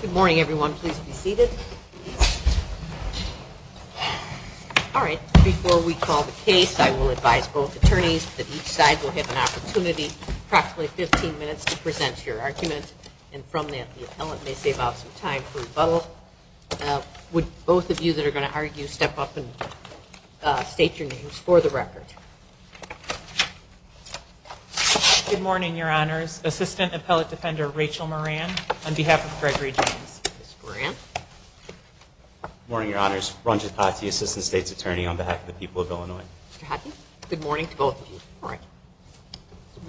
Good morning, everyone. Please be seated. All right. Before we call the case, I will advise both attorneys that each side will have an opportunity, approximately 15 minutes to present your argument. And from that, the appellant may save out some time for rebuttal. Would both of you that are going to argue step up and state your names for the record? Good morning, Your Honors. Assistant Appellate Defender Rachel Moran, on behalf of Gregory James. Good morning, Your Honors. Ranjit Pati, Assistant State's Attorney, on behalf of the people of Illinois. Good morning to both of you. All right.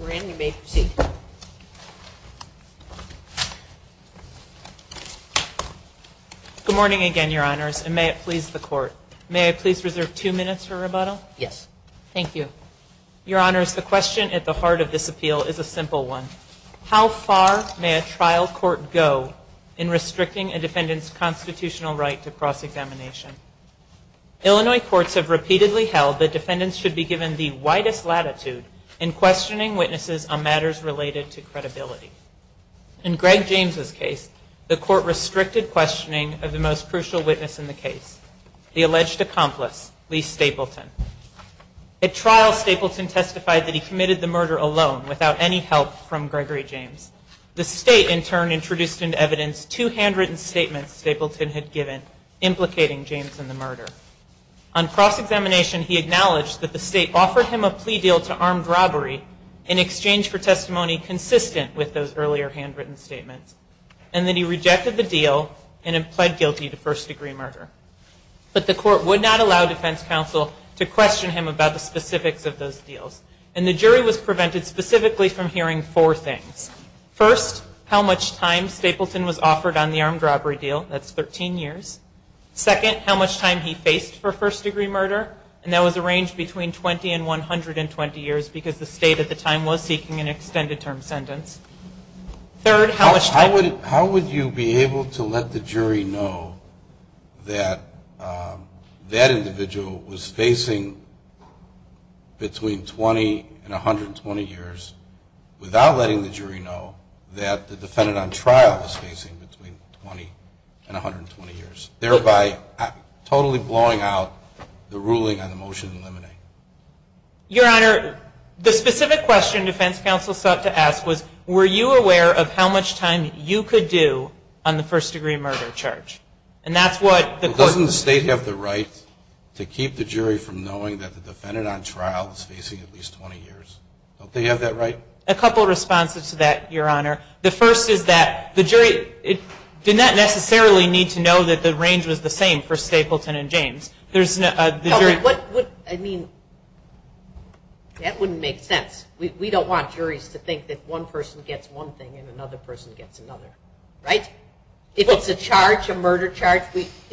Moran, you may proceed. Good morning again, Your Honors. And may it please the Court, may I please reserve two minutes for rebuttal? Yes. Thank you. Your Honors, the question at the heart of this appeal is a simple one. How far may a trial court go in restricting a defendant's constitutional right to cross-examination? Illinois courts have repeatedly held that defendants should be given the widest latitude in questioning witnesses on matters related to credibility. In Greg James's case, the Court restricted questioning of the most crucial witness in the case, the alleged accomplice, Lee Stapleton. At trial, Stapleton testified that he committed the murder alone, without any help from Gregory James. The State, in turn, introduced into evidence two handwritten statements Stapleton had given implicating James in the murder. On cross-examination, he acknowledged that the State offered him a plea deal to armed robbery in exchange for testimony consistent with those earlier handwritten statements, and that he rejected the deal and pled guilty to first-degree murder. But the Court would not allow defense counsel to question him about the specifics of those deals. And the jury was prevented specifically from hearing four things. First, how much time Stapleton was offered on the armed robbery deal, that's 13 years. Second, how much time he faced for first-degree murder, and that was a range between 20 and 120 years, because the State at the time was seeking an extended term sentence. Third, how much time... How would you be able to let the jury know that that individual was facing between 20 and 120 years, without letting the jury know that the defendant on trial was facing between 20 and 120 years, thereby totally blowing out the ruling on the motion to eliminate? Your Honor, the specific question defense counsel sought to ask was, were you aware of how much time you could do on the first-degree murder charge? And that's what the Court... Doesn't the State have the right to keep the jury from knowing that the defendant on trial is facing at least 20 years? Don't they have that right? A couple of responses to that, Your Honor. The first is that the jury did not necessarily need to know that the range was the same for Stapleton and James. There's... I mean, that wouldn't make sense. We don't want juries to think that one person gets one thing and another person gets another. Right? If it's a charge, a murder charge,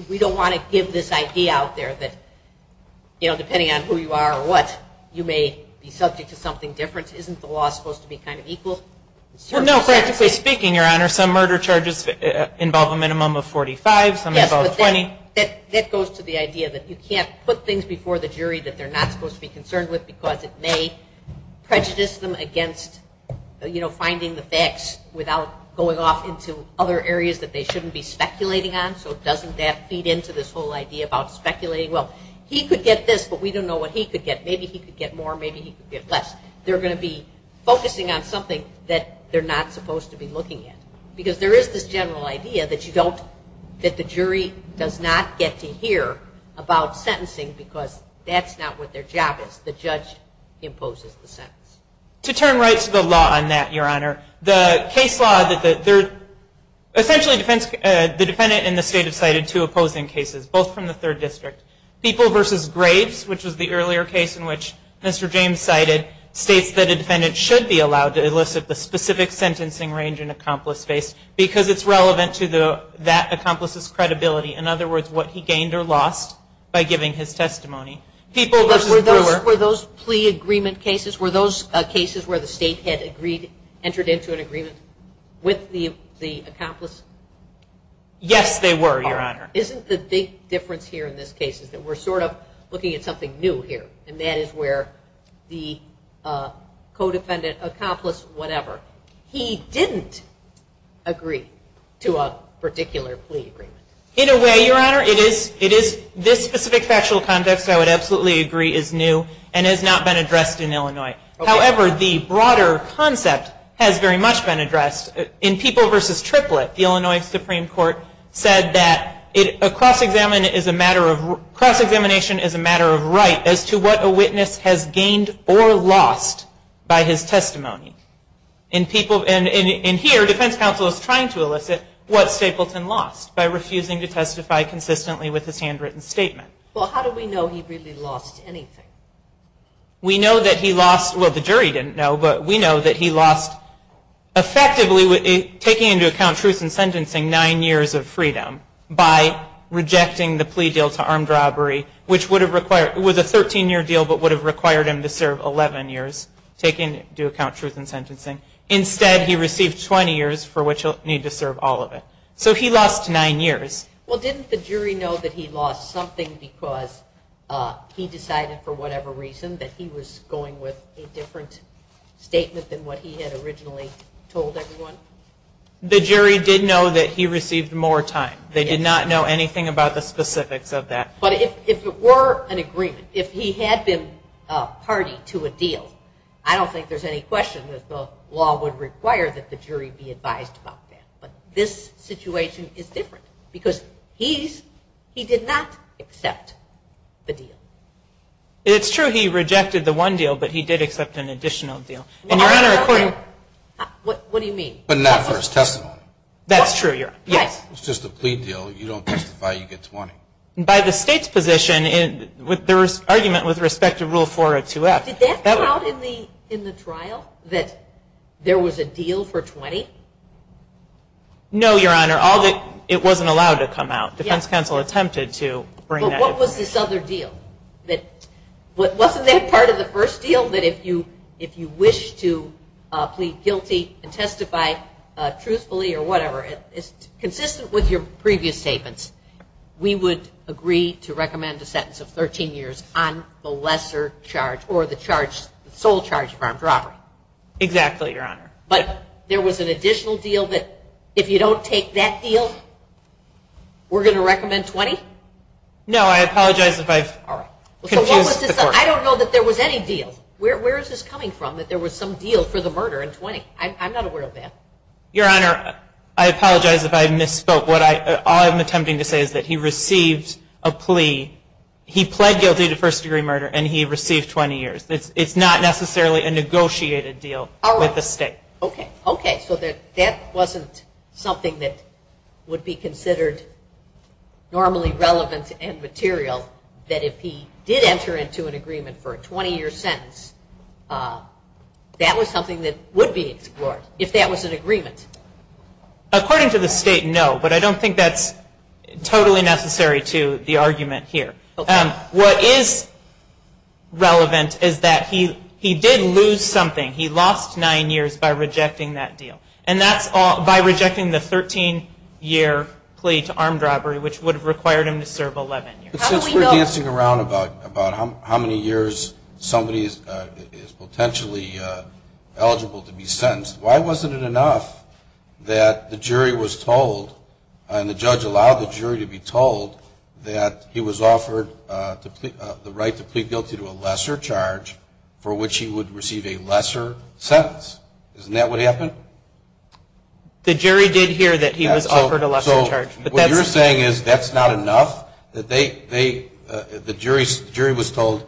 we don't want to give this idea out there that, you know, isn't the law supposed to be kind of equal? Well, no, practically speaking, Your Honor, some murder charges involve a minimum of 45, some involve 20. Yes, but that goes to the idea that you can't put things before the jury that they're not supposed to be concerned with because it may prejudice them against, you know, finding the facts without going off into other areas that they shouldn't be speculating on. So doesn't that feed into this whole idea about speculating? Well, he could get this, but we don't know what he could get. Maybe he could get more, maybe he could get less. They're going to be focusing on something that they're not supposed to be looking at because there is this general idea that you don't... that the jury does not get to hear about sentencing because that's not what their job is. The judge imposes the sentence. To turn right to the law on that, Your Honor, the case law that they're... essentially the defendant and the state have cited two opposing cases, both from the 3rd District. People v. Graves, which was the earlier case in which Mr. James cited, states that a defendant should be allowed to elicit the specific sentencing range an accomplice faced because it's relevant to that accomplice's credibility. In other words, what he gained or lost by giving his testimony. People v. Brewer... Were those plea agreement cases? Were those cases where the state had entered into an agreement with the accomplice? Yes, they were, Your Honor. Isn't the big difference here in this case is that we're sort of looking at something new here, and that is where the co-defendant, accomplice, whatever, he didn't agree to a particular plea agreement. In a way, Your Honor, it is. This specific factual context I would absolutely agree is new and has not been addressed in Illinois. However, the broader concept has very much been addressed. In People v. Triplett, the Illinois Supreme Court said that a cross-examination is a matter of right as to what a witness has gained or lost by his testimony. And here, defense counsel is trying to elicit what Stapleton lost by refusing to testify consistently with his handwritten statement. Well, how do we know he really lost anything? We know that he lost... Well, the jury didn't know, but we know that he lost... Effectively, taking into account truth in sentencing, nine years of freedom by rejecting the plea deal to armed robbery, which would have required... It was a 13-year deal, but would have required him to serve 11 years, taking into account truth in sentencing. Instead, he received 20 years for which he'll need to serve all of it. So he lost nine years. Well, didn't the jury know that he lost something because he decided for whatever reason that he was going with a different statement than what he had originally told everyone? The jury did know that he received more time. They did not know anything about the specifics of that. But if it were an agreement, if he had been party to a deal, I don't think there's any question that the law would require that the jury be advised about that. But this situation is different because he did not accept the deal. It's true he rejected the one deal, but he did accept an additional deal. And, Your Honor, according... What do you mean? But not for his testimony. That's true, Your Honor. Yes. It's just a plea deal. You don't testify, you get 20. By the State's position, with their argument with respect to Rule 402F... Did that come out in the trial, that there was a deal for 20? No, Your Honor. It wasn't allowed to come out. Defense counsel attempted to bring that information. But what was this other deal? Wasn't that part of the first deal, that if you wish to plead guilty and testify truthfully or whatever, consistent with your previous statements, we would agree to recommend a sentence of 13 years on the lesser charge or the sole charge of armed robbery. Exactly, Your Honor. But there was an additional deal that if you don't take that deal, we're going to recommend 20? No, I apologize if I've confused the court. I don't know that there was any deal. Where is this coming from, that there was some deal for the murder in 20? I'm not aware of that. Your Honor, I apologize if I misspoke. All I'm attempting to say is that he received a plea. He pled guilty to first-degree murder, and he received 20 years. It's not necessarily a negotiated deal with the State. Okay, so that wasn't something that would be considered normally relevant and material, that if he did enter into an agreement for a 20-year sentence, that was something that would be explored. If that was an agreement. According to the State, no, but I don't think that's totally necessary to the argument here. What is relevant is that he did lose something. He lost nine years by rejecting that deal, and that's by rejecting the 13-year plea to armed robbery, which would have required him to serve 11 years. But since we're dancing around about how many years somebody is potentially eligible to be sentenced, why wasn't it enough that the jury was told, and the judge allowed the jury to be told, that he was offered the right to plead guilty to a lesser charge for which he would receive a lesser sentence? Isn't that what happened? The jury did hear that he was offered a lesser charge. What you're saying is that's not enough? The jury was told,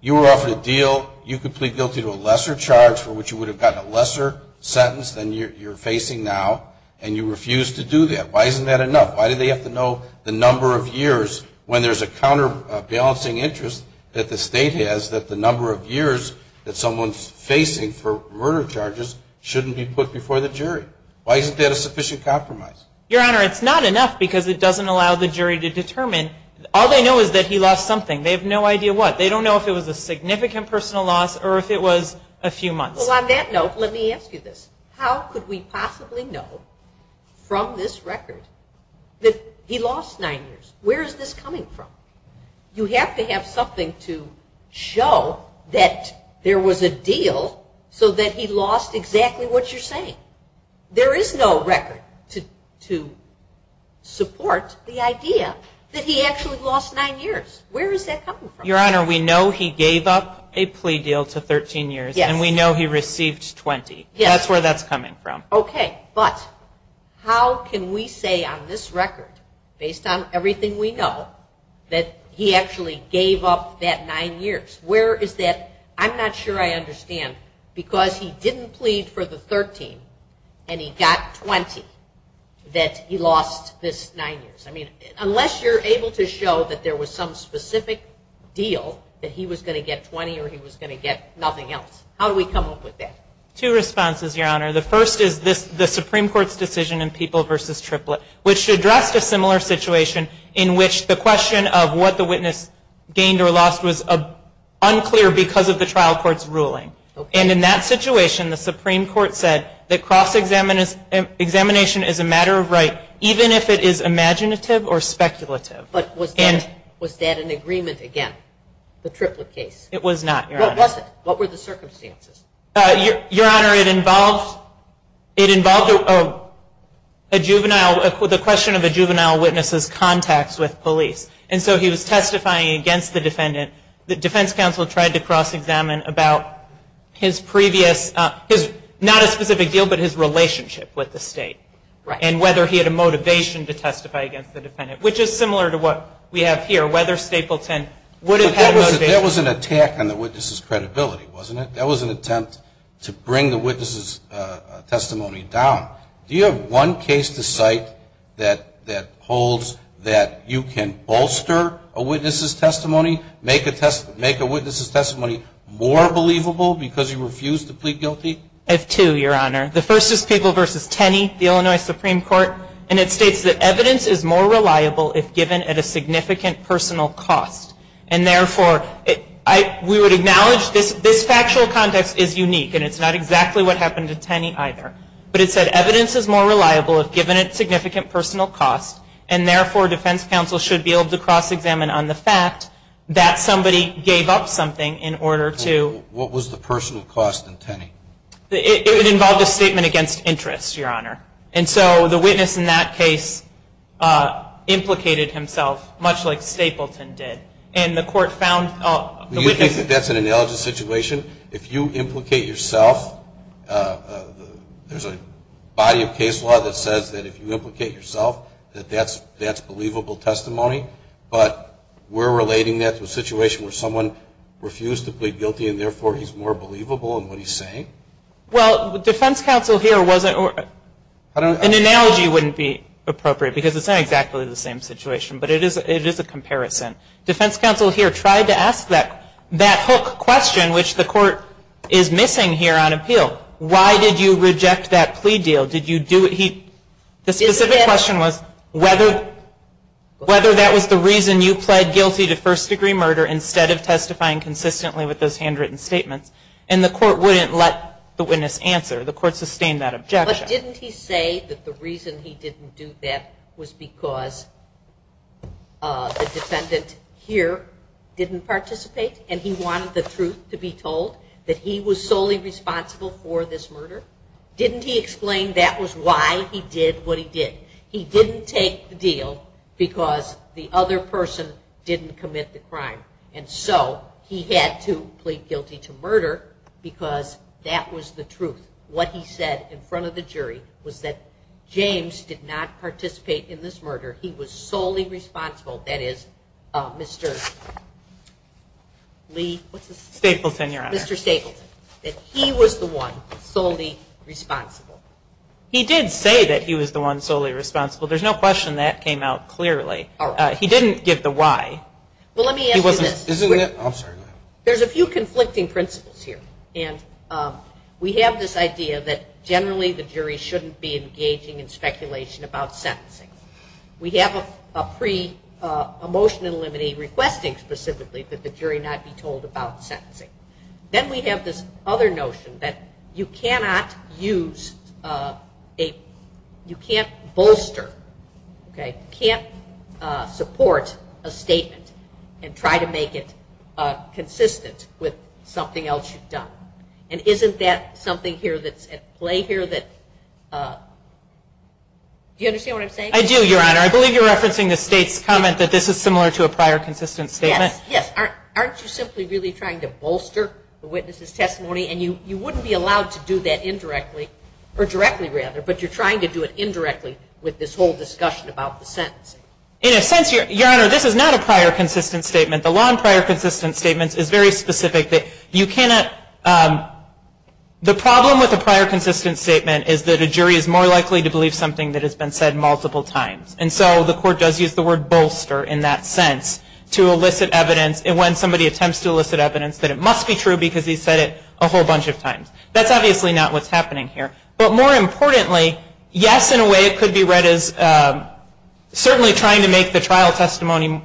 you were offered a deal, you could plead guilty to a lesser charge for which you would have gotten a lesser sentence than you're facing now, and you refused to do that. Why isn't that enough? Why do they have to know the number of years when there's a counterbalancing interest that the State has, that the number of years that someone's facing for murder charges shouldn't be put before the jury? Why isn't that a sufficient compromise? Your Honor, it's not enough because it doesn't allow the jury to determine. All they know is that he lost something. They have no idea what. They don't know if it was a significant personal loss or if it was a few months. Well, on that note, let me ask you this. How could we possibly know from this record that he lost nine years? Where is this coming from? You have to have something to show that there was a deal so that he lost exactly what you're saying. There is no record to support the idea that he actually lost nine years. Where is that coming from? Your Honor, we know he gave up a plea deal to 13 years, and we know he received 20. That's where that's coming from. Okay. But how can we say on this record, based on everything we know, that he actually gave up that nine years? Where is that? I'm not sure I understand because he didn't plead for the 13 and he got 20 that he lost this nine years. I mean, unless you're able to show that there was some specific deal that he was going to get 20 or he was going to get nothing else, how do we come up with that? Two responses, Your Honor. The first is the Supreme Court's decision in People v. Triplett, which addressed a similar situation in which the question of what the witness gained or lost was unclear because of the trial court's ruling. And in that situation, the Supreme Court said that cross-examination is a matter of right, even if it is imaginative or speculative. But was that an agreement again, the Triplett case? It was not, Your Honor. What was it? What were the circumstances? Your Honor, it involved a juvenile, the question of a juvenile witness's contacts with police. And so he was testifying against the defendant. The defense counsel tried to cross-examine about his previous, not a specific deal, but his relationship with the state and whether he had a motivation to testify against the defendant, which is similar to what we have here, whether Stapleton would have had a motivation. That was an attack on the witness's credibility, wasn't it? That was an attempt to bring the witness's testimony down. Do you have one case to cite that holds that you can bolster a witness's testimony, make a witness's testimony more believable because you refuse to plead guilty? I have two, Your Honor. The first is People v. Tenney, the Illinois Supreme Court, and it states that evidence is more reliable if given at a significant personal cost. And therefore, we would acknowledge this factual context is unique and it's not exactly what happened to Tenney either. But it said evidence is more reliable if given at significant personal cost, and therefore defense counsel should be able to cross-examine on the fact that somebody gave up something in order to What was the personal cost in Tenney? It involved a statement against interest, Your Honor. And so the witness in that case implicated himself, much like Stapleton did, and the court found Do you think that that's an analogous situation? If you implicate yourself, there's a body of case law that says that if you implicate yourself, that that's believable testimony. But we're relating that to a situation where someone refused to plead guilty Well, defense counsel here wasn't An analogy wouldn't be appropriate because it's not exactly the same situation, but it is a comparison. Defense counsel here tried to ask that hook question, which the court is missing here on appeal. Why did you reject that plea deal? The specific question was whether that was the reason you pled guilty to first-degree murder instead of testifying consistently with those handwritten statements. And the court wouldn't let the witness answer. The court sustained that objection. But didn't he say that the reason he didn't do that was because the defendant here didn't participate and he wanted the truth to be told, that he was solely responsible for this murder? Didn't he explain that was why he did what he did? He didn't take the deal because the other person didn't commit the crime. And so he had to plead guilty to murder because that was the truth. What he said in front of the jury was that James did not participate in this murder. He was solely responsible, that is, Mr. Lee, what's his name? Stapleton, Your Honor. Mr. Stapleton. That he was the one solely responsible. He did say that he was the one solely responsible. There's no question that came out clearly. He didn't give the why. Well, let me ask you this. Isn't it? I'm sorry, go ahead. There's a few conflicting principles here. And we have this idea that generally the jury shouldn't be engaging in speculation about sentencing. We have a pre-emotional remedy requesting specifically that the jury not be told about sentencing. Then we have this other notion that you cannot use a, you can't bolster, okay? You can't support a statement and try to make it consistent with something else you've done. And isn't that something here that's at play here that, do you understand what I'm saying? I do, Your Honor. I believe you're referencing the State's comment that this is similar to a prior consistent statement. Yes, aren't you simply really trying to bolster the witness's testimony? And you wouldn't be allowed to do that indirectly, or directly rather, but you're trying to do it indirectly with this whole discussion about the sentencing. In a sense, Your Honor, this is not a prior consistent statement. The law in prior consistent statements is very specific. You cannot, the problem with a prior consistent statement is that a jury is more likely to believe something that has been said multiple times. And so the court does use the word bolster in that sense to elicit evidence. And when somebody attempts to elicit evidence that it must be true because he's said it a whole bunch of times. That's obviously not what's happening here. But more importantly, yes, in a way it could be read as certainly trying to make the trial testimony,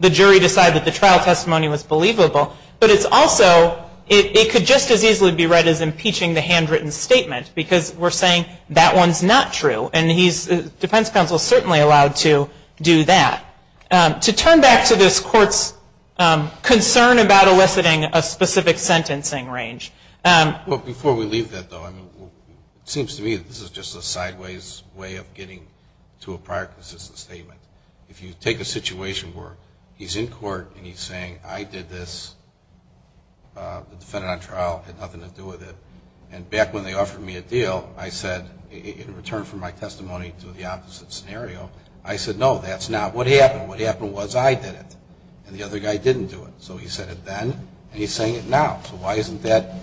the jury decide that the trial testimony was believable. But it's also, it could just as easily be read as impeaching the handwritten statement because we're saying that one's not true. And defense counsel is certainly allowed to do that. To turn back to this court's concern about eliciting a specific sentencing range. Before we leave that, though, it seems to me that this is just a sideways way of getting to a prior consistent statement. If you take a situation where he's in court and he's saying, I did this, the defendant on trial had nothing to do with it. And back when they offered me a deal, I said, in return for my testimony to the opposite scenario, I said, no, that's not what happened. What happened was I did it and the other guy didn't do it. So he said it then and he's saying it now. So why isn't that,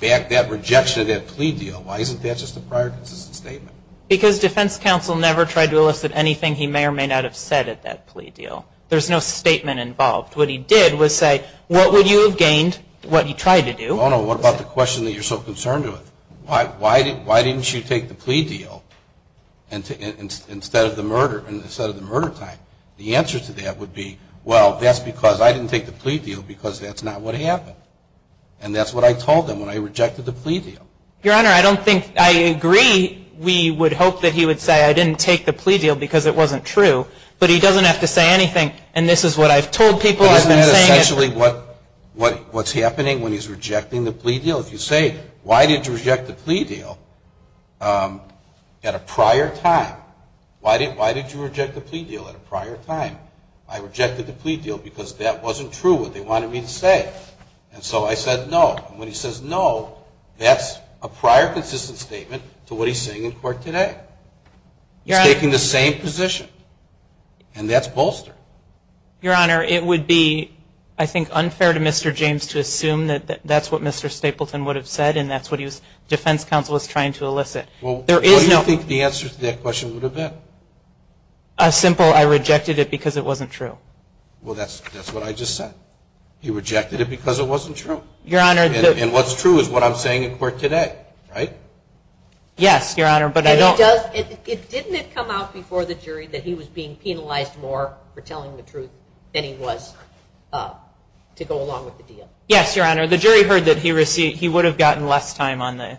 that rejection of that plea deal, why isn't that just a prior consistent statement? Because defense counsel never tried to elicit anything he may or may not have said at that plea deal. There's no statement involved. What he did was say, what would you have gained, what you tried to do. Well, no, what about the question that you're so concerned with? Why didn't you take the plea deal instead of the murder, instead of the murder time? The answer to that would be, well, that's because I didn't take the plea deal because that's not what happened. And that's what I told them when I rejected the plea deal. Your Honor, I don't think, I agree we would hope that he would say I didn't take the plea deal because it wasn't true, but he doesn't have to say anything and this is what I've told people, I've been saying it. Essentially what's happening when he's rejecting the plea deal, if you say, why did you reject the plea deal at a prior time? Why did you reject the plea deal at a prior time? I rejected the plea deal because that wasn't true, what they wanted me to say. And so I said no. And when he says no, that's a prior consistent statement to what he's saying in court today. He's taking the same position. And that's bolster. Your Honor, it would be, I think, unfair to Mr. James to assume that that's what Mr. Stapleton would have said and that's what his defense counsel was trying to elicit. Well, what do you think the answer to that question would have been? As simple, I rejected it because it wasn't true. Well, that's what I just said. He rejected it because it wasn't true. Your Honor. And what's true is what I'm saying in court today, right? Yes, Your Honor, but I don't. Didn't it come out before the jury that he was being penalized more for telling the truth than he was to go along with the deal? Yes, Your Honor. The jury heard that he would have gotten less time on the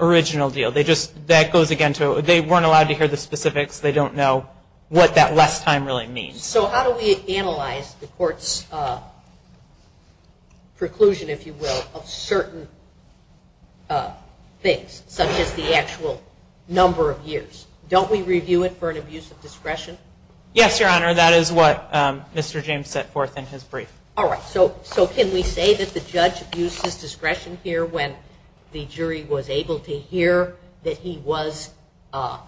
original deal. That goes, again, to they weren't allowed to hear the specifics. They don't know what that less time really means. So how do we analyze the court's preclusion, if you will, of certain things, such as the actual number of years? Don't we review it for an abuse of discretion? Yes, Your Honor, that is what Mr. James set forth in his brief. All right, so can we say that the judge abused his discretion here when the jury was able to hear that he was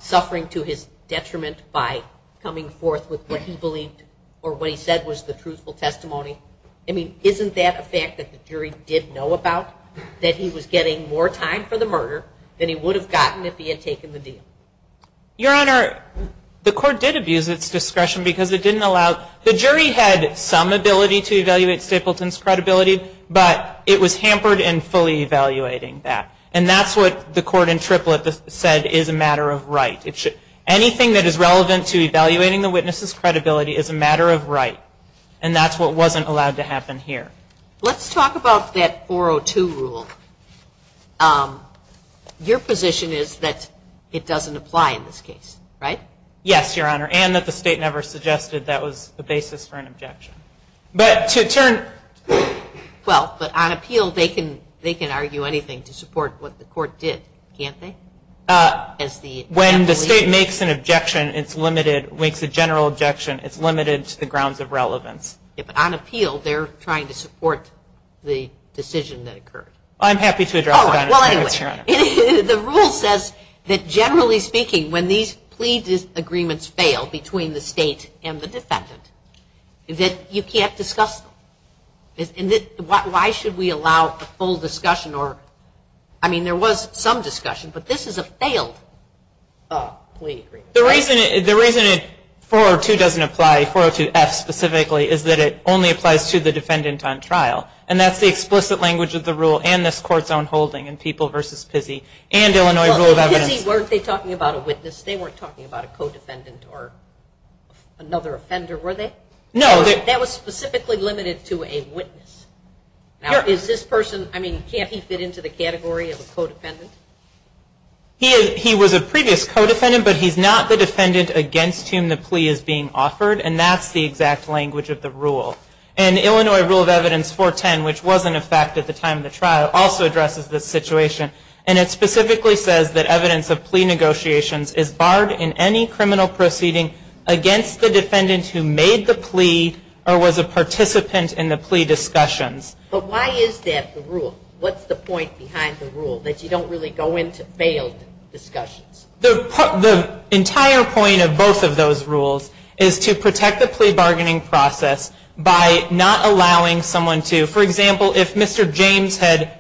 suffering to his detriment by coming forth with what he believed or what he said was the truthful testimony? I mean, isn't that a fact that the jury did know about, that he was getting more time for the murder than he would have gotten if he had taken the deal? Your Honor, the court did abuse its discretion because it didn't allow it. The jury had some ability to evaluate Stapleton's credibility, but it was hampered in fully evaluating that. And that's what the court in Triplett said is a matter of right. Anything that is relevant to evaluating the witness's credibility is a matter of right, and that's what wasn't allowed to happen here. Let's talk about that 402 rule. Your position is that it doesn't apply in this case, right? Yes, Your Honor, and that the state never suggested that was the basis for an objection. But to turn... Well, but on appeal they can argue anything to support what the court did, can't they? When the state makes an objection, it's limited, makes a general objection, it's limited to the grounds of relevance. But on appeal they're trying to support the decision that occurred. I'm happy to address that. Well, anyway, the rule says that generally speaking, when these plea agreements fail between the state and the defendant, that you can't discuss them. Why should we allow a full discussion? I mean, there was some discussion, but this is a failed plea agreement. The reason 402 doesn't apply, 402F specifically, is that it only applies to the defendant on trial, and that's the explicit language of the rule and this court's own holding in People v. Pizzi and Illinois Rule of Evidence. Pizzi, weren't they talking about a witness? They weren't talking about a co-defendant or another offender, were they? No. That was specifically limited to a witness. Now, is this person, I mean, can't he fit into the category of a co-defendant? He was a previous co-defendant, but he's not the defendant against whom the plea is being offered, and that's the exact language of the rule. And Illinois Rule of Evidence 410, which was in effect at the time of the trial, also addresses this situation, and it specifically says that evidence of plea negotiations is barred in any criminal proceeding against the defendant who made the plea or was a participant in the plea discussions. But why is that the rule? What's the point behind the rule, that you don't really go into failed discussions? The entire point of both of those rules is to protect the plea bargaining process by not allowing someone to, for example, if Mr. James had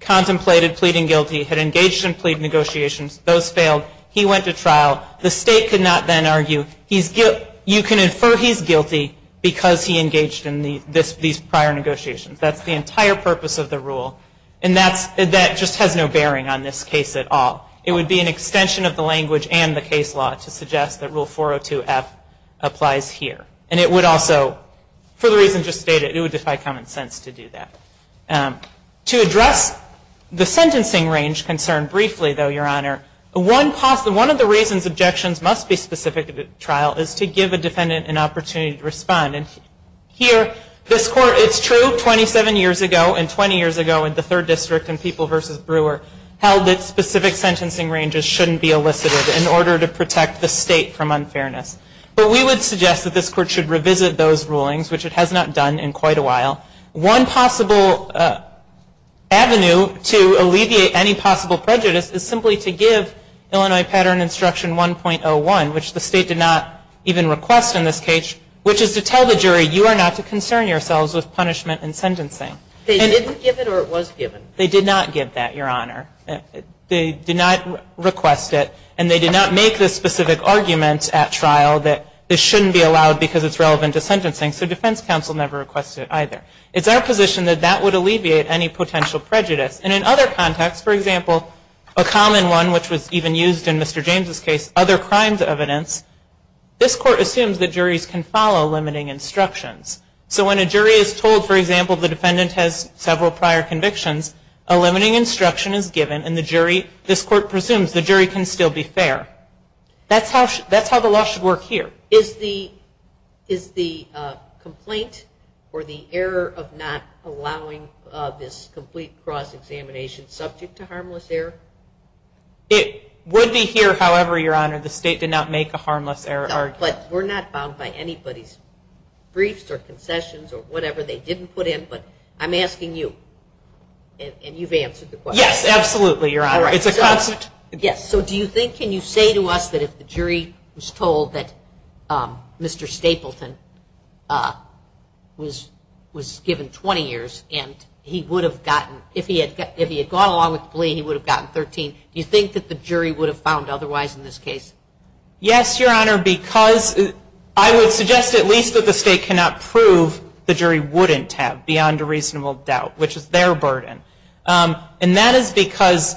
contemplated pleading guilty, had engaged in plea negotiations, those failed, he went to trial, the state could not then argue, you can infer he's guilty because he engaged in these prior negotiations. That's the entire purpose of the rule, and that just has no bearing on this case at all. It would be an extension of the language and the case law to suggest that Rule 402F applies here. And it would also, for the reasons just stated, it would defy common sense to do that. To address the sentencing range concern briefly, though, Your Honor, one of the reasons objections must be specific to the trial is to give a defendant an opportunity to respond. Here, it's true, 27 years ago and 20 years ago in the Third District in People v. Brewer held that specific sentencing ranges shouldn't be elicited in order to protect the state from unfairness. But we would suggest that this Court should revisit those rulings, which it has not done in quite a while. One possible avenue to alleviate any possible prejudice is simply to give Illinois Pattern Instruction 1.01, which the state did not even request in this case, which is to tell the jury you are not to concern yourselves with punishment and sentencing. They didn't give it or it was given? They did not give that, Your Honor. They did not request it, and they did not make the specific argument at trial that this shouldn't be allowed because it's relevant to sentencing, so defense counsel never requested it either. It's our position that that would alleviate any potential prejudice. And in other contexts, for example, a common one which was even used in Mr. James' case, other crimes evidence, this Court assumes that juries can follow limiting instructions. So when a jury is told, for example, the defendant has several prior convictions, a limiting instruction is given and the jury, this Court presumes the jury can still be fair. That's how the law should work here. Is the complaint or the error of not allowing this complete cross-examination subject to harmless error? It would be here, however, Your Honor, the state did not make a harmless error argument. But we're not bound by anybody's briefs or concessions or whatever they didn't put in, but I'm asking you, and you've answered the question. Yes, absolutely, Your Honor. Yes, so do you think, can you say to us that if the jury was told that Mr. Stapleton was given 20 years and if he had gone along with the plea, he would have gotten 13, do you think that the jury would have found otherwise in this case? Yes, Your Honor, because I would suggest at least that the state cannot prove the jury wouldn't have beyond a reasonable doubt, which is their burden. And that is because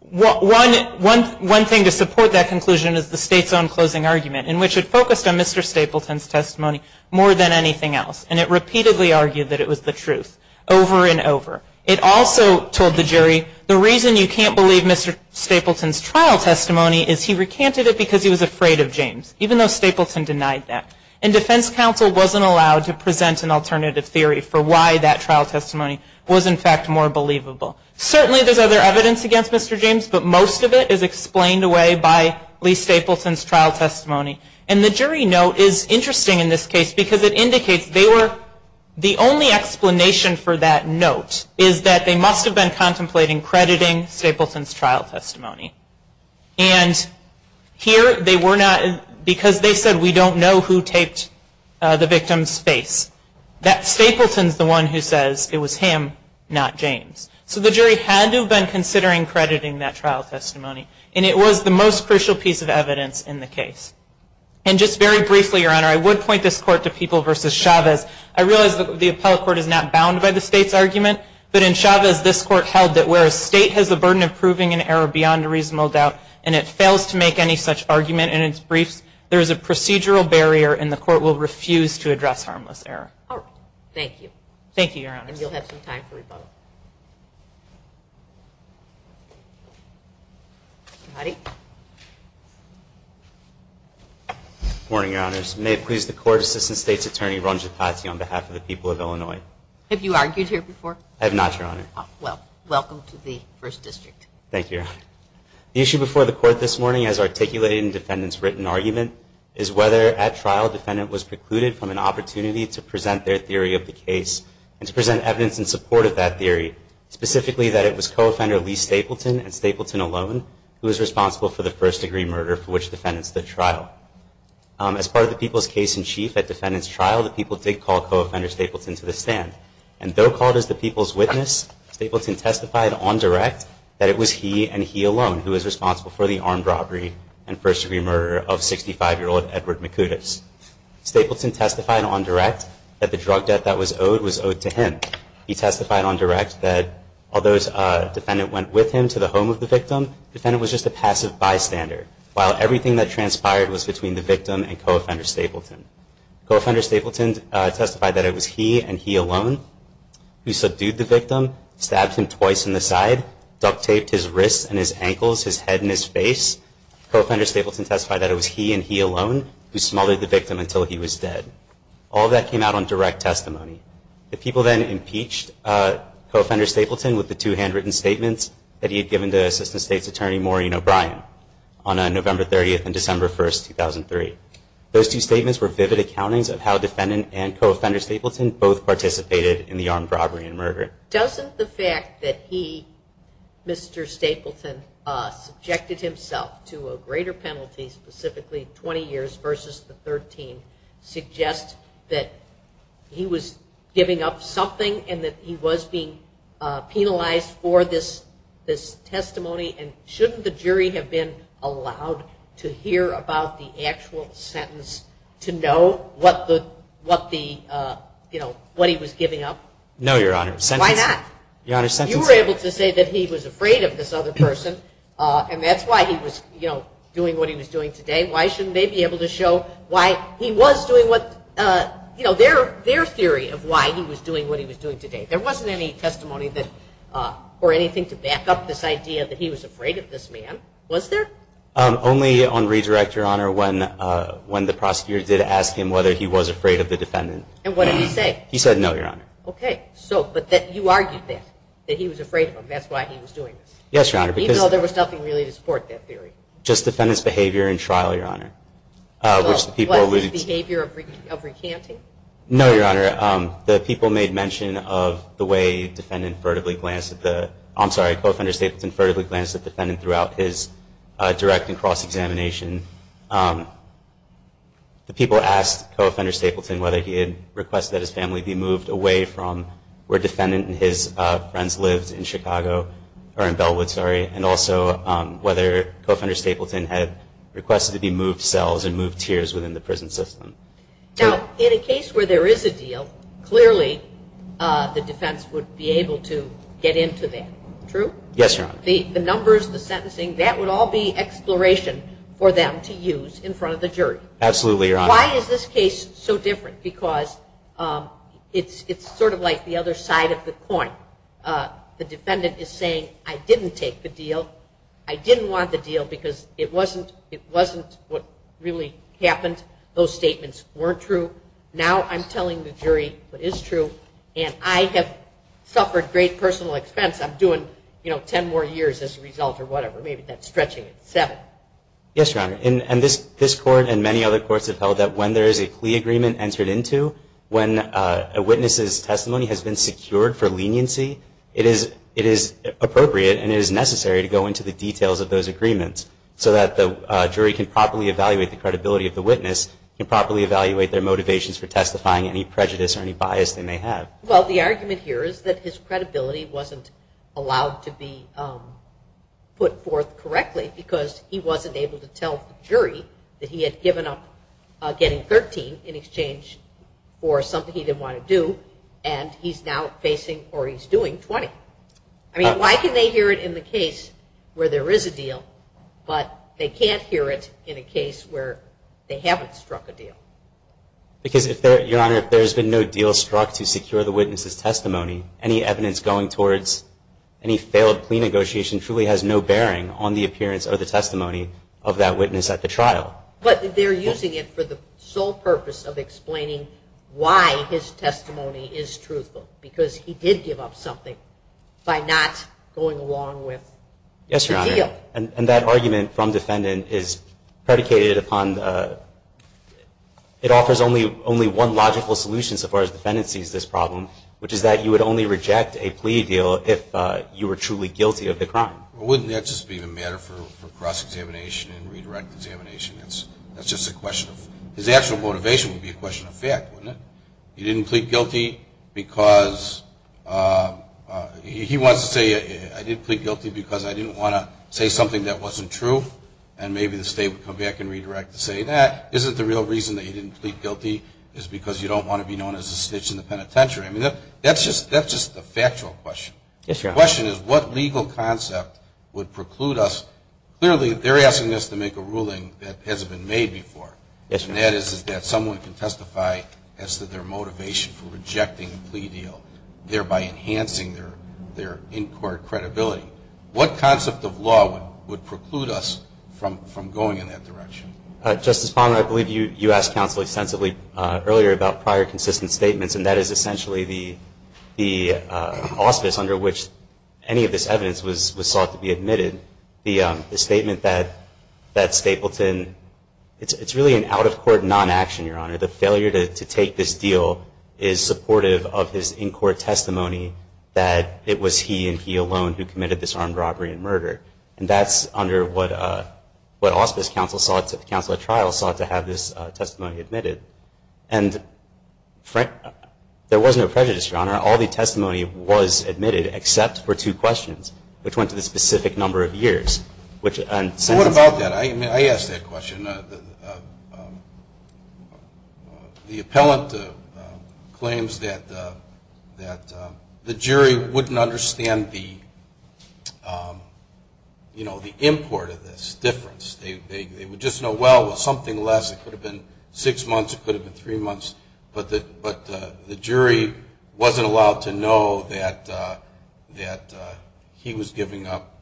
one thing to support that conclusion is the state's own closing argument, in which it focused on Mr. Stapleton's testimony more than anything else. And it repeatedly argued that it was the truth, over and over. It also told the jury, the reason you can't believe Mr. Stapleton's trial testimony is he recanted it because he was afraid of James, even though Stapleton denied that. And defense counsel wasn't allowed to present an alternative theory for why that trial testimony was in fact more believable. Certainly there's other evidence against Mr. James, but most of it is explained away by Lee Stapleton's trial testimony. And the jury note is interesting in this case because it indicates they were, the only explanation for that note is that they must have been contemplating crediting Stapleton's trial testimony. And here they were not, because they said we don't know who taped the victim's face. That Stapleton's the one who says it was him, not James. So the jury had to have been considering crediting that trial testimony. And it was the most crucial piece of evidence in the case. And just very briefly, Your Honor, I would point this court to People v. Chavez. I realize the appellate court is not bound by the state's argument, but in Chavez this court held that where a state has the burden of proving an error beyond a reasonable doubt and it fails to make any such argument in its briefs, there is a procedural barrier and the court will refuse to address harmless error. Thank you. Thank you, Your Honor. And you'll have some time for rebuttal. Good morning, Your Honors. May it please the Court, Assistant State's Attorney Ron Gepazzi on behalf of the people of Illinois. Have you argued here before? I have not, Your Honor. Well, welcome to the First District. Thank you, Your Honor. The issue before the court this morning as articulated in defendant's written argument is whether, at trial, defendant was precluded from an opportunity to present their theory of the case and to present evidence in support of that theory, specifically that it was co-offender Lee Stapleton and Stapleton alone who was responsible for the first-degree murder for which defendants did trial. As part of the people's case-in-chief at defendant's trial, the people did call co-offender Stapleton to the stand. And though called as the people's witness, Stapleton testified on direct that it was he and he alone who was responsible for the armed robbery and first-degree murder of 65-year-old Edward Makoudis. Stapleton testified on direct that the drug debt that was owed was owed to him. He testified on direct that although a defendant went with him to the home of the victim, the defendant was just a passive bystander, while everything that transpired was between the victim and co-offender Stapleton. Co-offender Stapleton testified that it was he and he alone stabbed him twice in the side, duct-taped his wrists and his ankles, his head and his face. Co-offender Stapleton testified that it was he and he alone who smothered the victim until he was dead. All of that came out on direct testimony. The people then impeached co-offender Stapleton with the two handwritten statements that he had given to Assistant State's Attorney Maureen O'Brien on November 30th and December 1st, 2003. Those two statements were vivid accountings of how defendant and co-offender Stapleton both participated in the armed robbery and murder. Doesn't the fact that he, Mr. Stapleton, subjected himself to a greater penalty, specifically 20 years versus the 13, suggest that he was giving up something and that he was being penalized for this testimony? And shouldn't the jury have been allowed to hear about the actual sentence to know what he was giving up? No, Your Honor. Why not? You were able to say that he was afraid of this other person and that's why he was doing what he was doing today. Why shouldn't they be able to show why he was doing their theory of why he was doing what he was doing today? There wasn't any testimony or anything to back up this idea that he was afraid of this man, was there? Only on redirect, Your Honor, when the prosecutor did ask him whether he was afraid of the defendant. And what did he say? He said no, Your Honor. Okay. But you argued that, that he was afraid of him. That's why he was doing this. Yes, Your Honor. Even though there was nothing really to support that theory. Just defendant's behavior in trial, Your Honor. What, his behavior of recanting? No, Your Honor. The people made mention of the way Coffender Stapleton furtively glanced at the defendant throughout his direct and cross-examination. The people asked Coffender Stapleton whether he had requested that his family be moved away from where defendant and his friends lived in Chicago, or in Bellwood, sorry. And also whether Coffender Stapleton had requested that he move cells and move tiers within the prison system. Now, in a case where there is a deal, clearly the defense would be able to get into that. True? Yes, Your Honor. The numbers, the sentencing, that would all be exploration for them to use in front of the jury. Absolutely, Your Honor. Why is this case so different? Because it's sort of like the other side of the coin. The defendant is saying, I didn't take the deal. I didn't want the deal because it wasn't what really happened. Those statements weren't true. Now I'm telling the jury what is true, and I have suffered great personal expense. I'm doing 10 more years as a result or whatever. Maybe that's stretching it. Seven. Yes, Your Honor. And this Court and many other courts have held that when there is a plea agreement entered into, when a witness's testimony has been secured for leniency, it is appropriate and it is necessary to go into the details of those agreements so that the jury can properly evaluate the credibility of the witness, can properly evaluate their motivations for testifying, any prejudice or any bias they may have. Well, the argument here is that his credibility wasn't allowed to be put forth correctly because he wasn't able to tell the jury that he had given up getting 13 in exchange for something he didn't want to do, and he's now facing, or he's doing, 20. I mean, why can they hear it in the case where there is a deal, but they can't hear it in a case where they haven't struck a deal? Because, Your Honor, if there's been no deal struck to secure the witness's testimony, any evidence going towards any failed plea negotiation truly has no bearing on the appearance or the testimony of that witness at the trial. But they're using it for the sole purpose of explaining why his testimony is truthful, because he did give up something by not going along with the deal. Yes, Your Honor, and that argument from defendant is predicated upon, it offers only one logical solution so far as defendant sees this problem, which is that you would only reject a plea deal if you were truly guilty of the crime. Well, wouldn't that just be the matter for cross-examination and redirect examination? That's just a question of... His actual motivation would be a question of fact, wouldn't it? He didn't plead guilty because... He wants to say, I did plead guilty because I didn't want to say something that wasn't true, and maybe the state would come back and redirect to say that. Isn't the real reason that he didn't plead guilty is because you don't want to be known as a snitch in the penitentiary? I mean, that's just a factual question. Yes, Your Honor. The question is what legal concept would preclude us... Clearly, they're asking us to make a ruling that hasn't been made before. Yes, Your Honor. And that is that someone can testify as to their motivation for rejecting a plea deal, thereby enhancing their in-court credibility. What concept of law would preclude us from going in that direction? Justice Palmer, I believe you asked counsel extensively earlier about prior consistent statements, and that is essentially the auspice under which any of this evidence was sought to be admitted. The statement that Stapleton... It's really an out-of-court non-action, Your Honor. The failure to take this deal is supportive of his in-court testimony that it was he and he alone who committed this armed robbery and murder. And that's under what auspice counsel sought... Counsel at trial sought to have this testimony admitted. And there was no prejudice, Your Honor. All the testimony was admitted except for two questions, which went to the specific number of years. What about that? I asked that question. The appellant claims that the jury wouldn't understand the import of this difference. They would just know, well, something less. It could have been six months. It could have been three months. But the jury wasn't allowed to know that he was giving up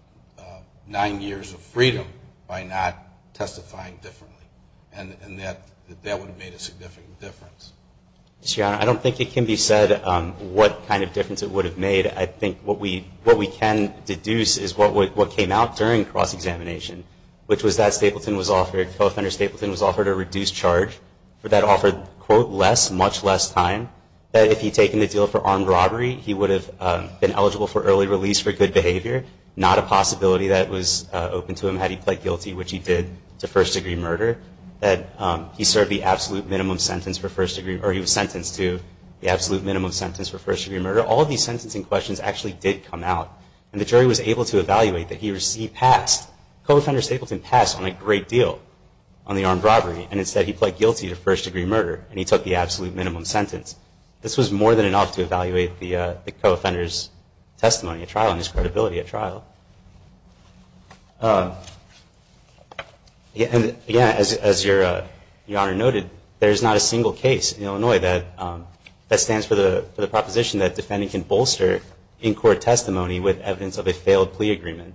nine years of freedom by not testifying differently. And that would have made a significant difference. Your Honor, I don't think it can be said what kind of difference it would have made. I think what we can deduce is what came out during cross-examination, which was that co-offender Stapleton was offered a reduced charge that offered, quote, less, much less time, that if he'd taken the deal for armed robbery, he would have been eligible for early release for good behavior, not a possibility that was open to him had he pled guilty, which he did to first-degree murder, that he served the absolute minimum sentence for first-degree... or he was sentenced to the absolute minimum sentence for first-degree murder. All of these sentencing questions actually did come out. And the jury was able to evaluate that he received past co-offender Stapleton passed on a great deal on the armed robbery, and instead he pled guilty to first-degree murder, and he took the absolute minimum sentence. This was more than enough to evaluate the co-offender's testimony at trial and his credibility at trial. Again, as Your Honor noted, there is not a single case in Illinois that stands for the proposition that defending can bolster in-court testimony with evidence of a failed plea agreement.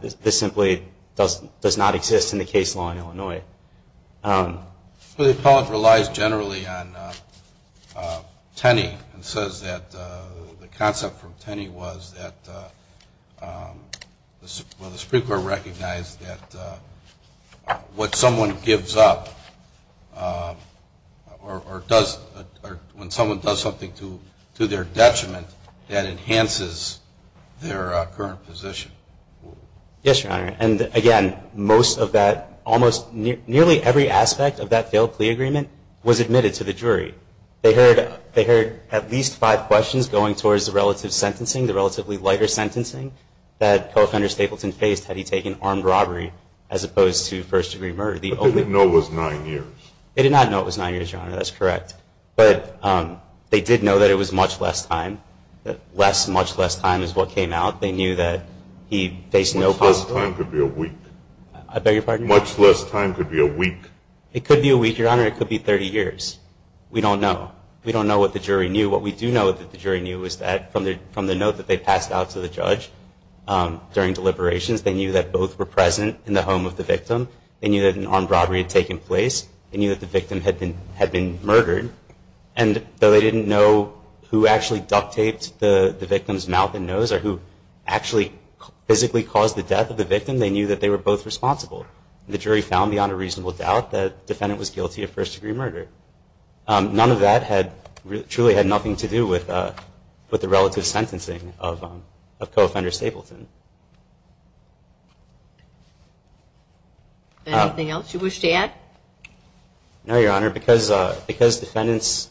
This simply does not exist in the case law in Illinois. The appellate relies generally on Tenney and says that the concept from Tenney was that the Supreme Court recognized that what someone gives up or when someone does something to their detriment that enhances their current position. Yes, Your Honor. And again, most of that, almost nearly every aspect of that failed plea agreement was admitted to the jury. They heard at least five questions going towards the relative sentencing, the relatively lighter sentencing, that co-offender Stapleton faced had he taken armed robbery as opposed to first-degree murder. What they didn't know was nine years. They did not know it was nine years, Your Honor. That's correct. But they did know that it was much less time. Less, much less time is what came out. They knew that he faced no possible- Much less time could be a week. I beg your pardon? Much less time could be a week. It could be a week, Your Honor. It could be 30 years. We don't know. We don't know what the jury knew. What we do know that the jury knew was that from the note that they passed out to the judge during deliberations, they knew that both were present in the home of the victim. They knew that an armed robbery had taken place. They knew that the victim had been murdered. And though they didn't know who actually duct-taped the victim's mouth and nose or who actually physically caused the death of the victim, they knew that they were both responsible. The jury found beyond a reasonable doubt that the defendant was guilty of first-degree murder. None of that truly had nothing to do with the relative sentencing of co-offender Stapleton. Anything else you wish to add? No, Your Honor. Because defendant's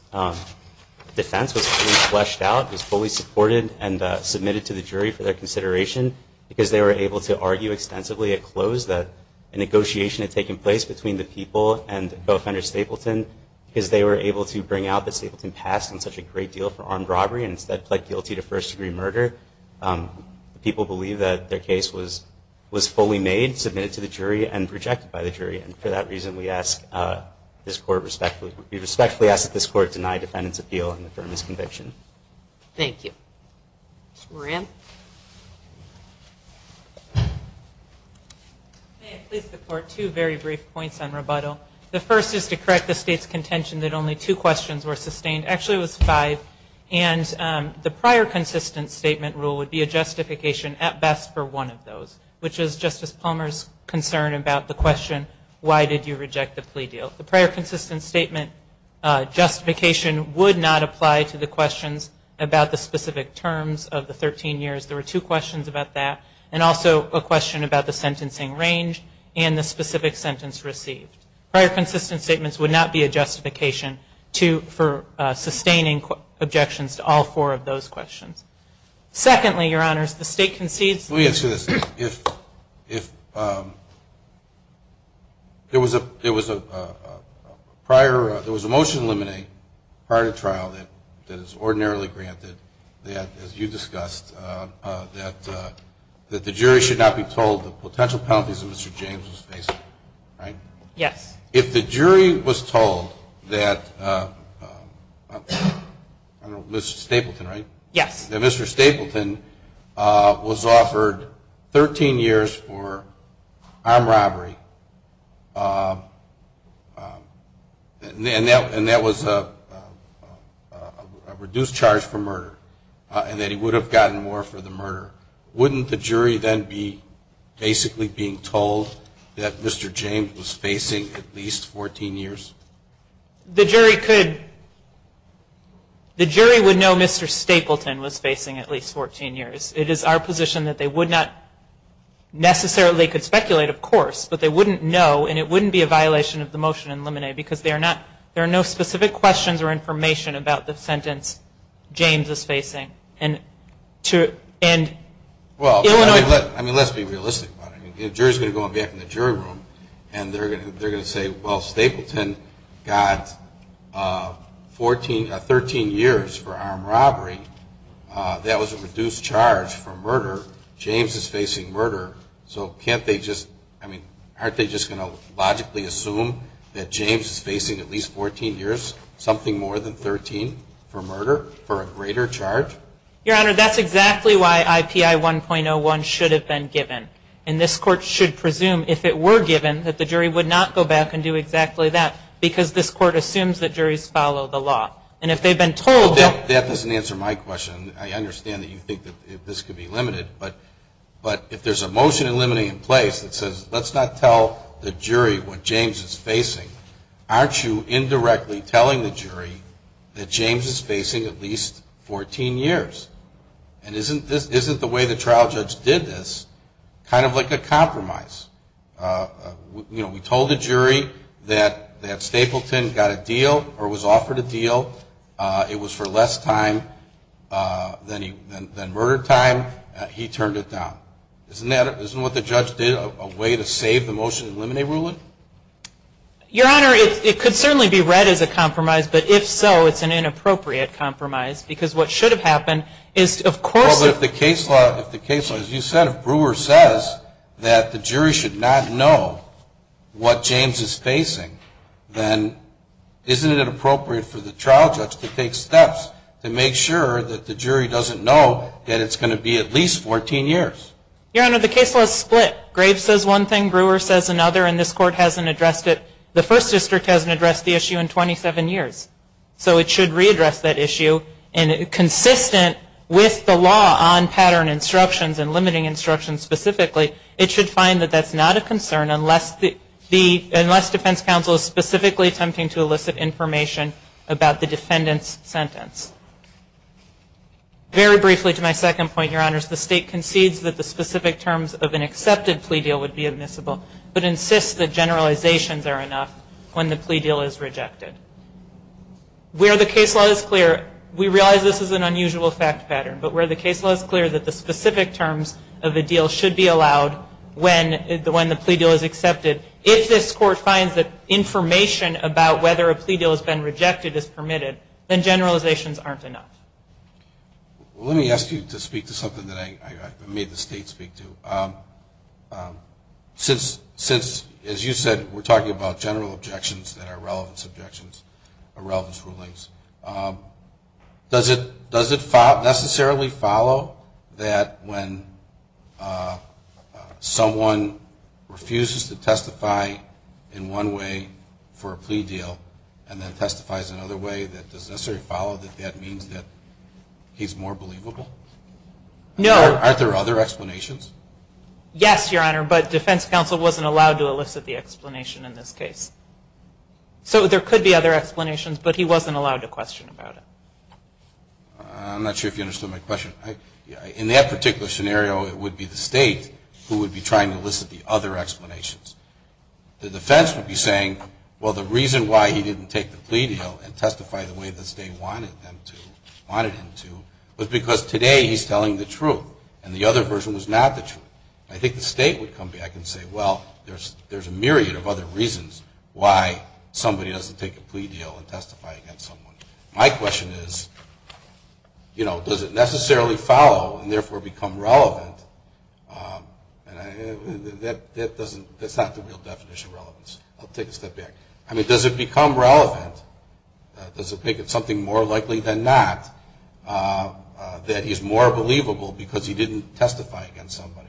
defense was fully fleshed out, was fully supported and submitted to the jury for their consideration, because they were able to argue extensively at close that a negotiation had taken place between the people and co-offender Stapleton, because they were able to bring out that Stapleton passed on such a great deal for armed robbery and instead pled guilty to first-degree murder, people believe that their case was fully made, submitted to the jury, and projected by the jury. And for that reason, we respectfully ask that this court deny defendant's appeal and affirm his conviction. Thank you. Ms. Moran. May I please report two very brief points on rebuttal. The first is to correct the State's contention that only two questions were sustained. Actually, it was five. And the prior consistent statement rule would be a justification at best for one of those, which is Justice Palmer's concern about the question why did you reject the plea deal. The prior consistent statement justification would not apply to the questions about the specific terms of the 13 years. There were two questions about that, and also a question about the sentencing range and the specific sentence received. Prior consistent statements would not be a justification for sustaining objections to all four of those questions. Secondly, Your Honors, the State concedes. Let me answer this. If there was a prior, there was a motion limiting prior to trial that is ordinarily granted that, as you discussed, that the jury should not be told the potential penalties that Mr. James was facing. Right? Yes. If the jury was told that, I don't know, Mr. Stapleton, right? Yes. That Mr. Stapleton was offered 13 years for armed robbery, and that was a reduced charge for murder, and that he would have gotten more for the murder, wouldn't the jury then be basically being told that Mr. James was facing at least 14 years? The jury could, the jury would know Mr. Stapleton was facing at least 14 years. It is our position that they would not necessarily could speculate, of course, but they wouldn't know and it wouldn't be a violation of the motion in limine, because there are no specific questions or information about the sentence James is facing. Well, I mean, let's be realistic about it. The jury is going to go back in the jury room and they're going to say, well, Stapleton got 13 years for armed robbery. That was a reduced charge for murder. James is facing murder. So can't they just, I mean, aren't they just going to logically assume that James is facing at least 14 years, something more than 13 for murder for a greater charge? Your Honor, that's exactly why IPI 1.01 should have been given. And this Court should presume, if it were given, that the jury would not go back and do exactly that, because this Court assumes that juries follow the law. And if they've been told that. That doesn't answer my question. I understand that you think that this could be limited, but if there's a motion in limine in place that says, let's not tell the jury what James is facing, aren't you indirectly telling the jury that James is facing at least 14 years? And isn't the way the trial judge did this kind of like a compromise? You know, we told the jury that Stapleton got a deal or was offered a deal. It was for less time than murder time. He turned it down. Isn't what the judge did a way to save the motion in limine ruling? Your Honor, it could certainly be read as a compromise, but if so, it's an inappropriate compromise because what should have happened is, of course. But if the case law, if the case law, as you said, if Brewer says that the jury should not know what James is facing, then isn't it appropriate for the trial judge to take steps to make sure that the jury doesn't know that it's going to be at least 14 years? Your Honor, the case law is split. Graves says one thing, Brewer says another, and this Court hasn't addressed it. The First District hasn't addressed the issue in 27 years. So it should readdress that issue, and consistent with the law on pattern instructions and limiting instructions specifically, it should find that that's not a concern unless the defense counsel is specifically attempting to elicit information about the defendant's sentence. Very briefly, to my second point, Your Honor, the State concedes that the specific terms of an accepted plea deal would be admissible, but insists that generalizations are enough when the plea deal is rejected. Where the case law is clear, we realize this is an unusual fact pattern, but where the case law is clear that the specific terms of a deal should be allowed when the plea deal is accepted, if this Court finds that information about whether a plea deal has been rejected is permitted, then generalizations aren't enough. Let me ask you to speak to something that I made the State speak to. Since, as you said, we're talking about general objections that are relevance objections, or relevance rulings, does it necessarily follow that when someone refuses to testify in one way for a plea deal, and then testifies another way, does it necessarily follow that that means that he's more believable? No. Aren't there other explanations? Yes, Your Honor, but defense counsel wasn't allowed to elicit the explanation in this case. So there could be other explanations, but he wasn't allowed to question about it. I'm not sure if you understood my question. In that particular scenario, it would be the State who would be trying to elicit the other explanations. The defense would be saying, well, the reason why he didn't take the plea deal and testify the way the State wanted him to was because today he's telling the truth, and the other version was not the truth. I think the State would come back and say, well, there's a myriad of other reasons why somebody doesn't take a plea deal and testify against someone. My question is, you know, does it necessarily follow, and therefore become relevant? That's not the real definition of relevance. I'll take a step back. I mean, does it become relevant? Does it make it something more likely than not that he's more believable because he didn't testify against somebody?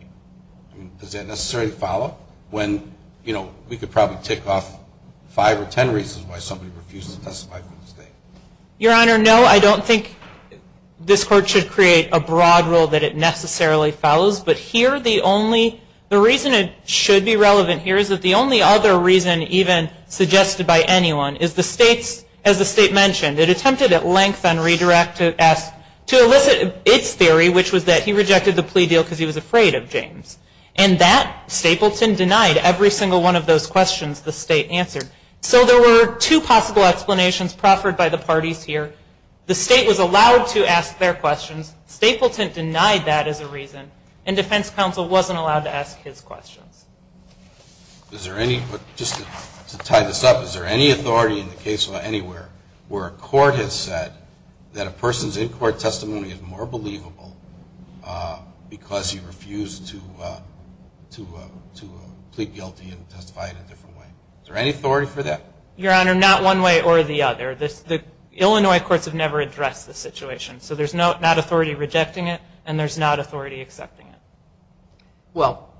Does that necessarily follow? When, you know, we could probably tick off five or ten reasons why somebody refuses to testify for the State. Your Honor, no, I don't think this Court should create a broad rule that it necessarily follows, but here the only, the reason it should be relevant here is that the only other reason even suggested by anyone is the State's, as the State mentioned, it attempted at length on redirect to elicit its theory, which was that he rejected the plea deal because he was afraid of James. And that, Stapleton denied every single one of those questions the State answered. So there were two possible explanations proffered by the parties here. The State was allowed to ask their questions. Stapleton denied that as a reason. And defense counsel wasn't allowed to ask his questions. Is there any, just to tie this up, is there any authority in the case anywhere where a court has said that a person's in-court testimony is more believable because he refused to, to plead guilty and testify in a different way? Is there any authority for that? Your Honor, not one way or the other. The Illinois courts have never addressed this situation. So there's not authority rejecting it and there's not authority accepting it. Well,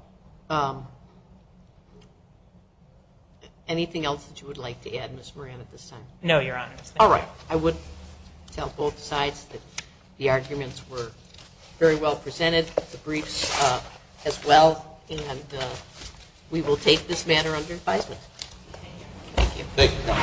anything else that you would like to add, Ms. Moran, at this time? No, Your Honor. All right. I would tell both sides that the arguments were very well presented, the briefs as well. And we will take this matter under advisement. Thank you. Thank you.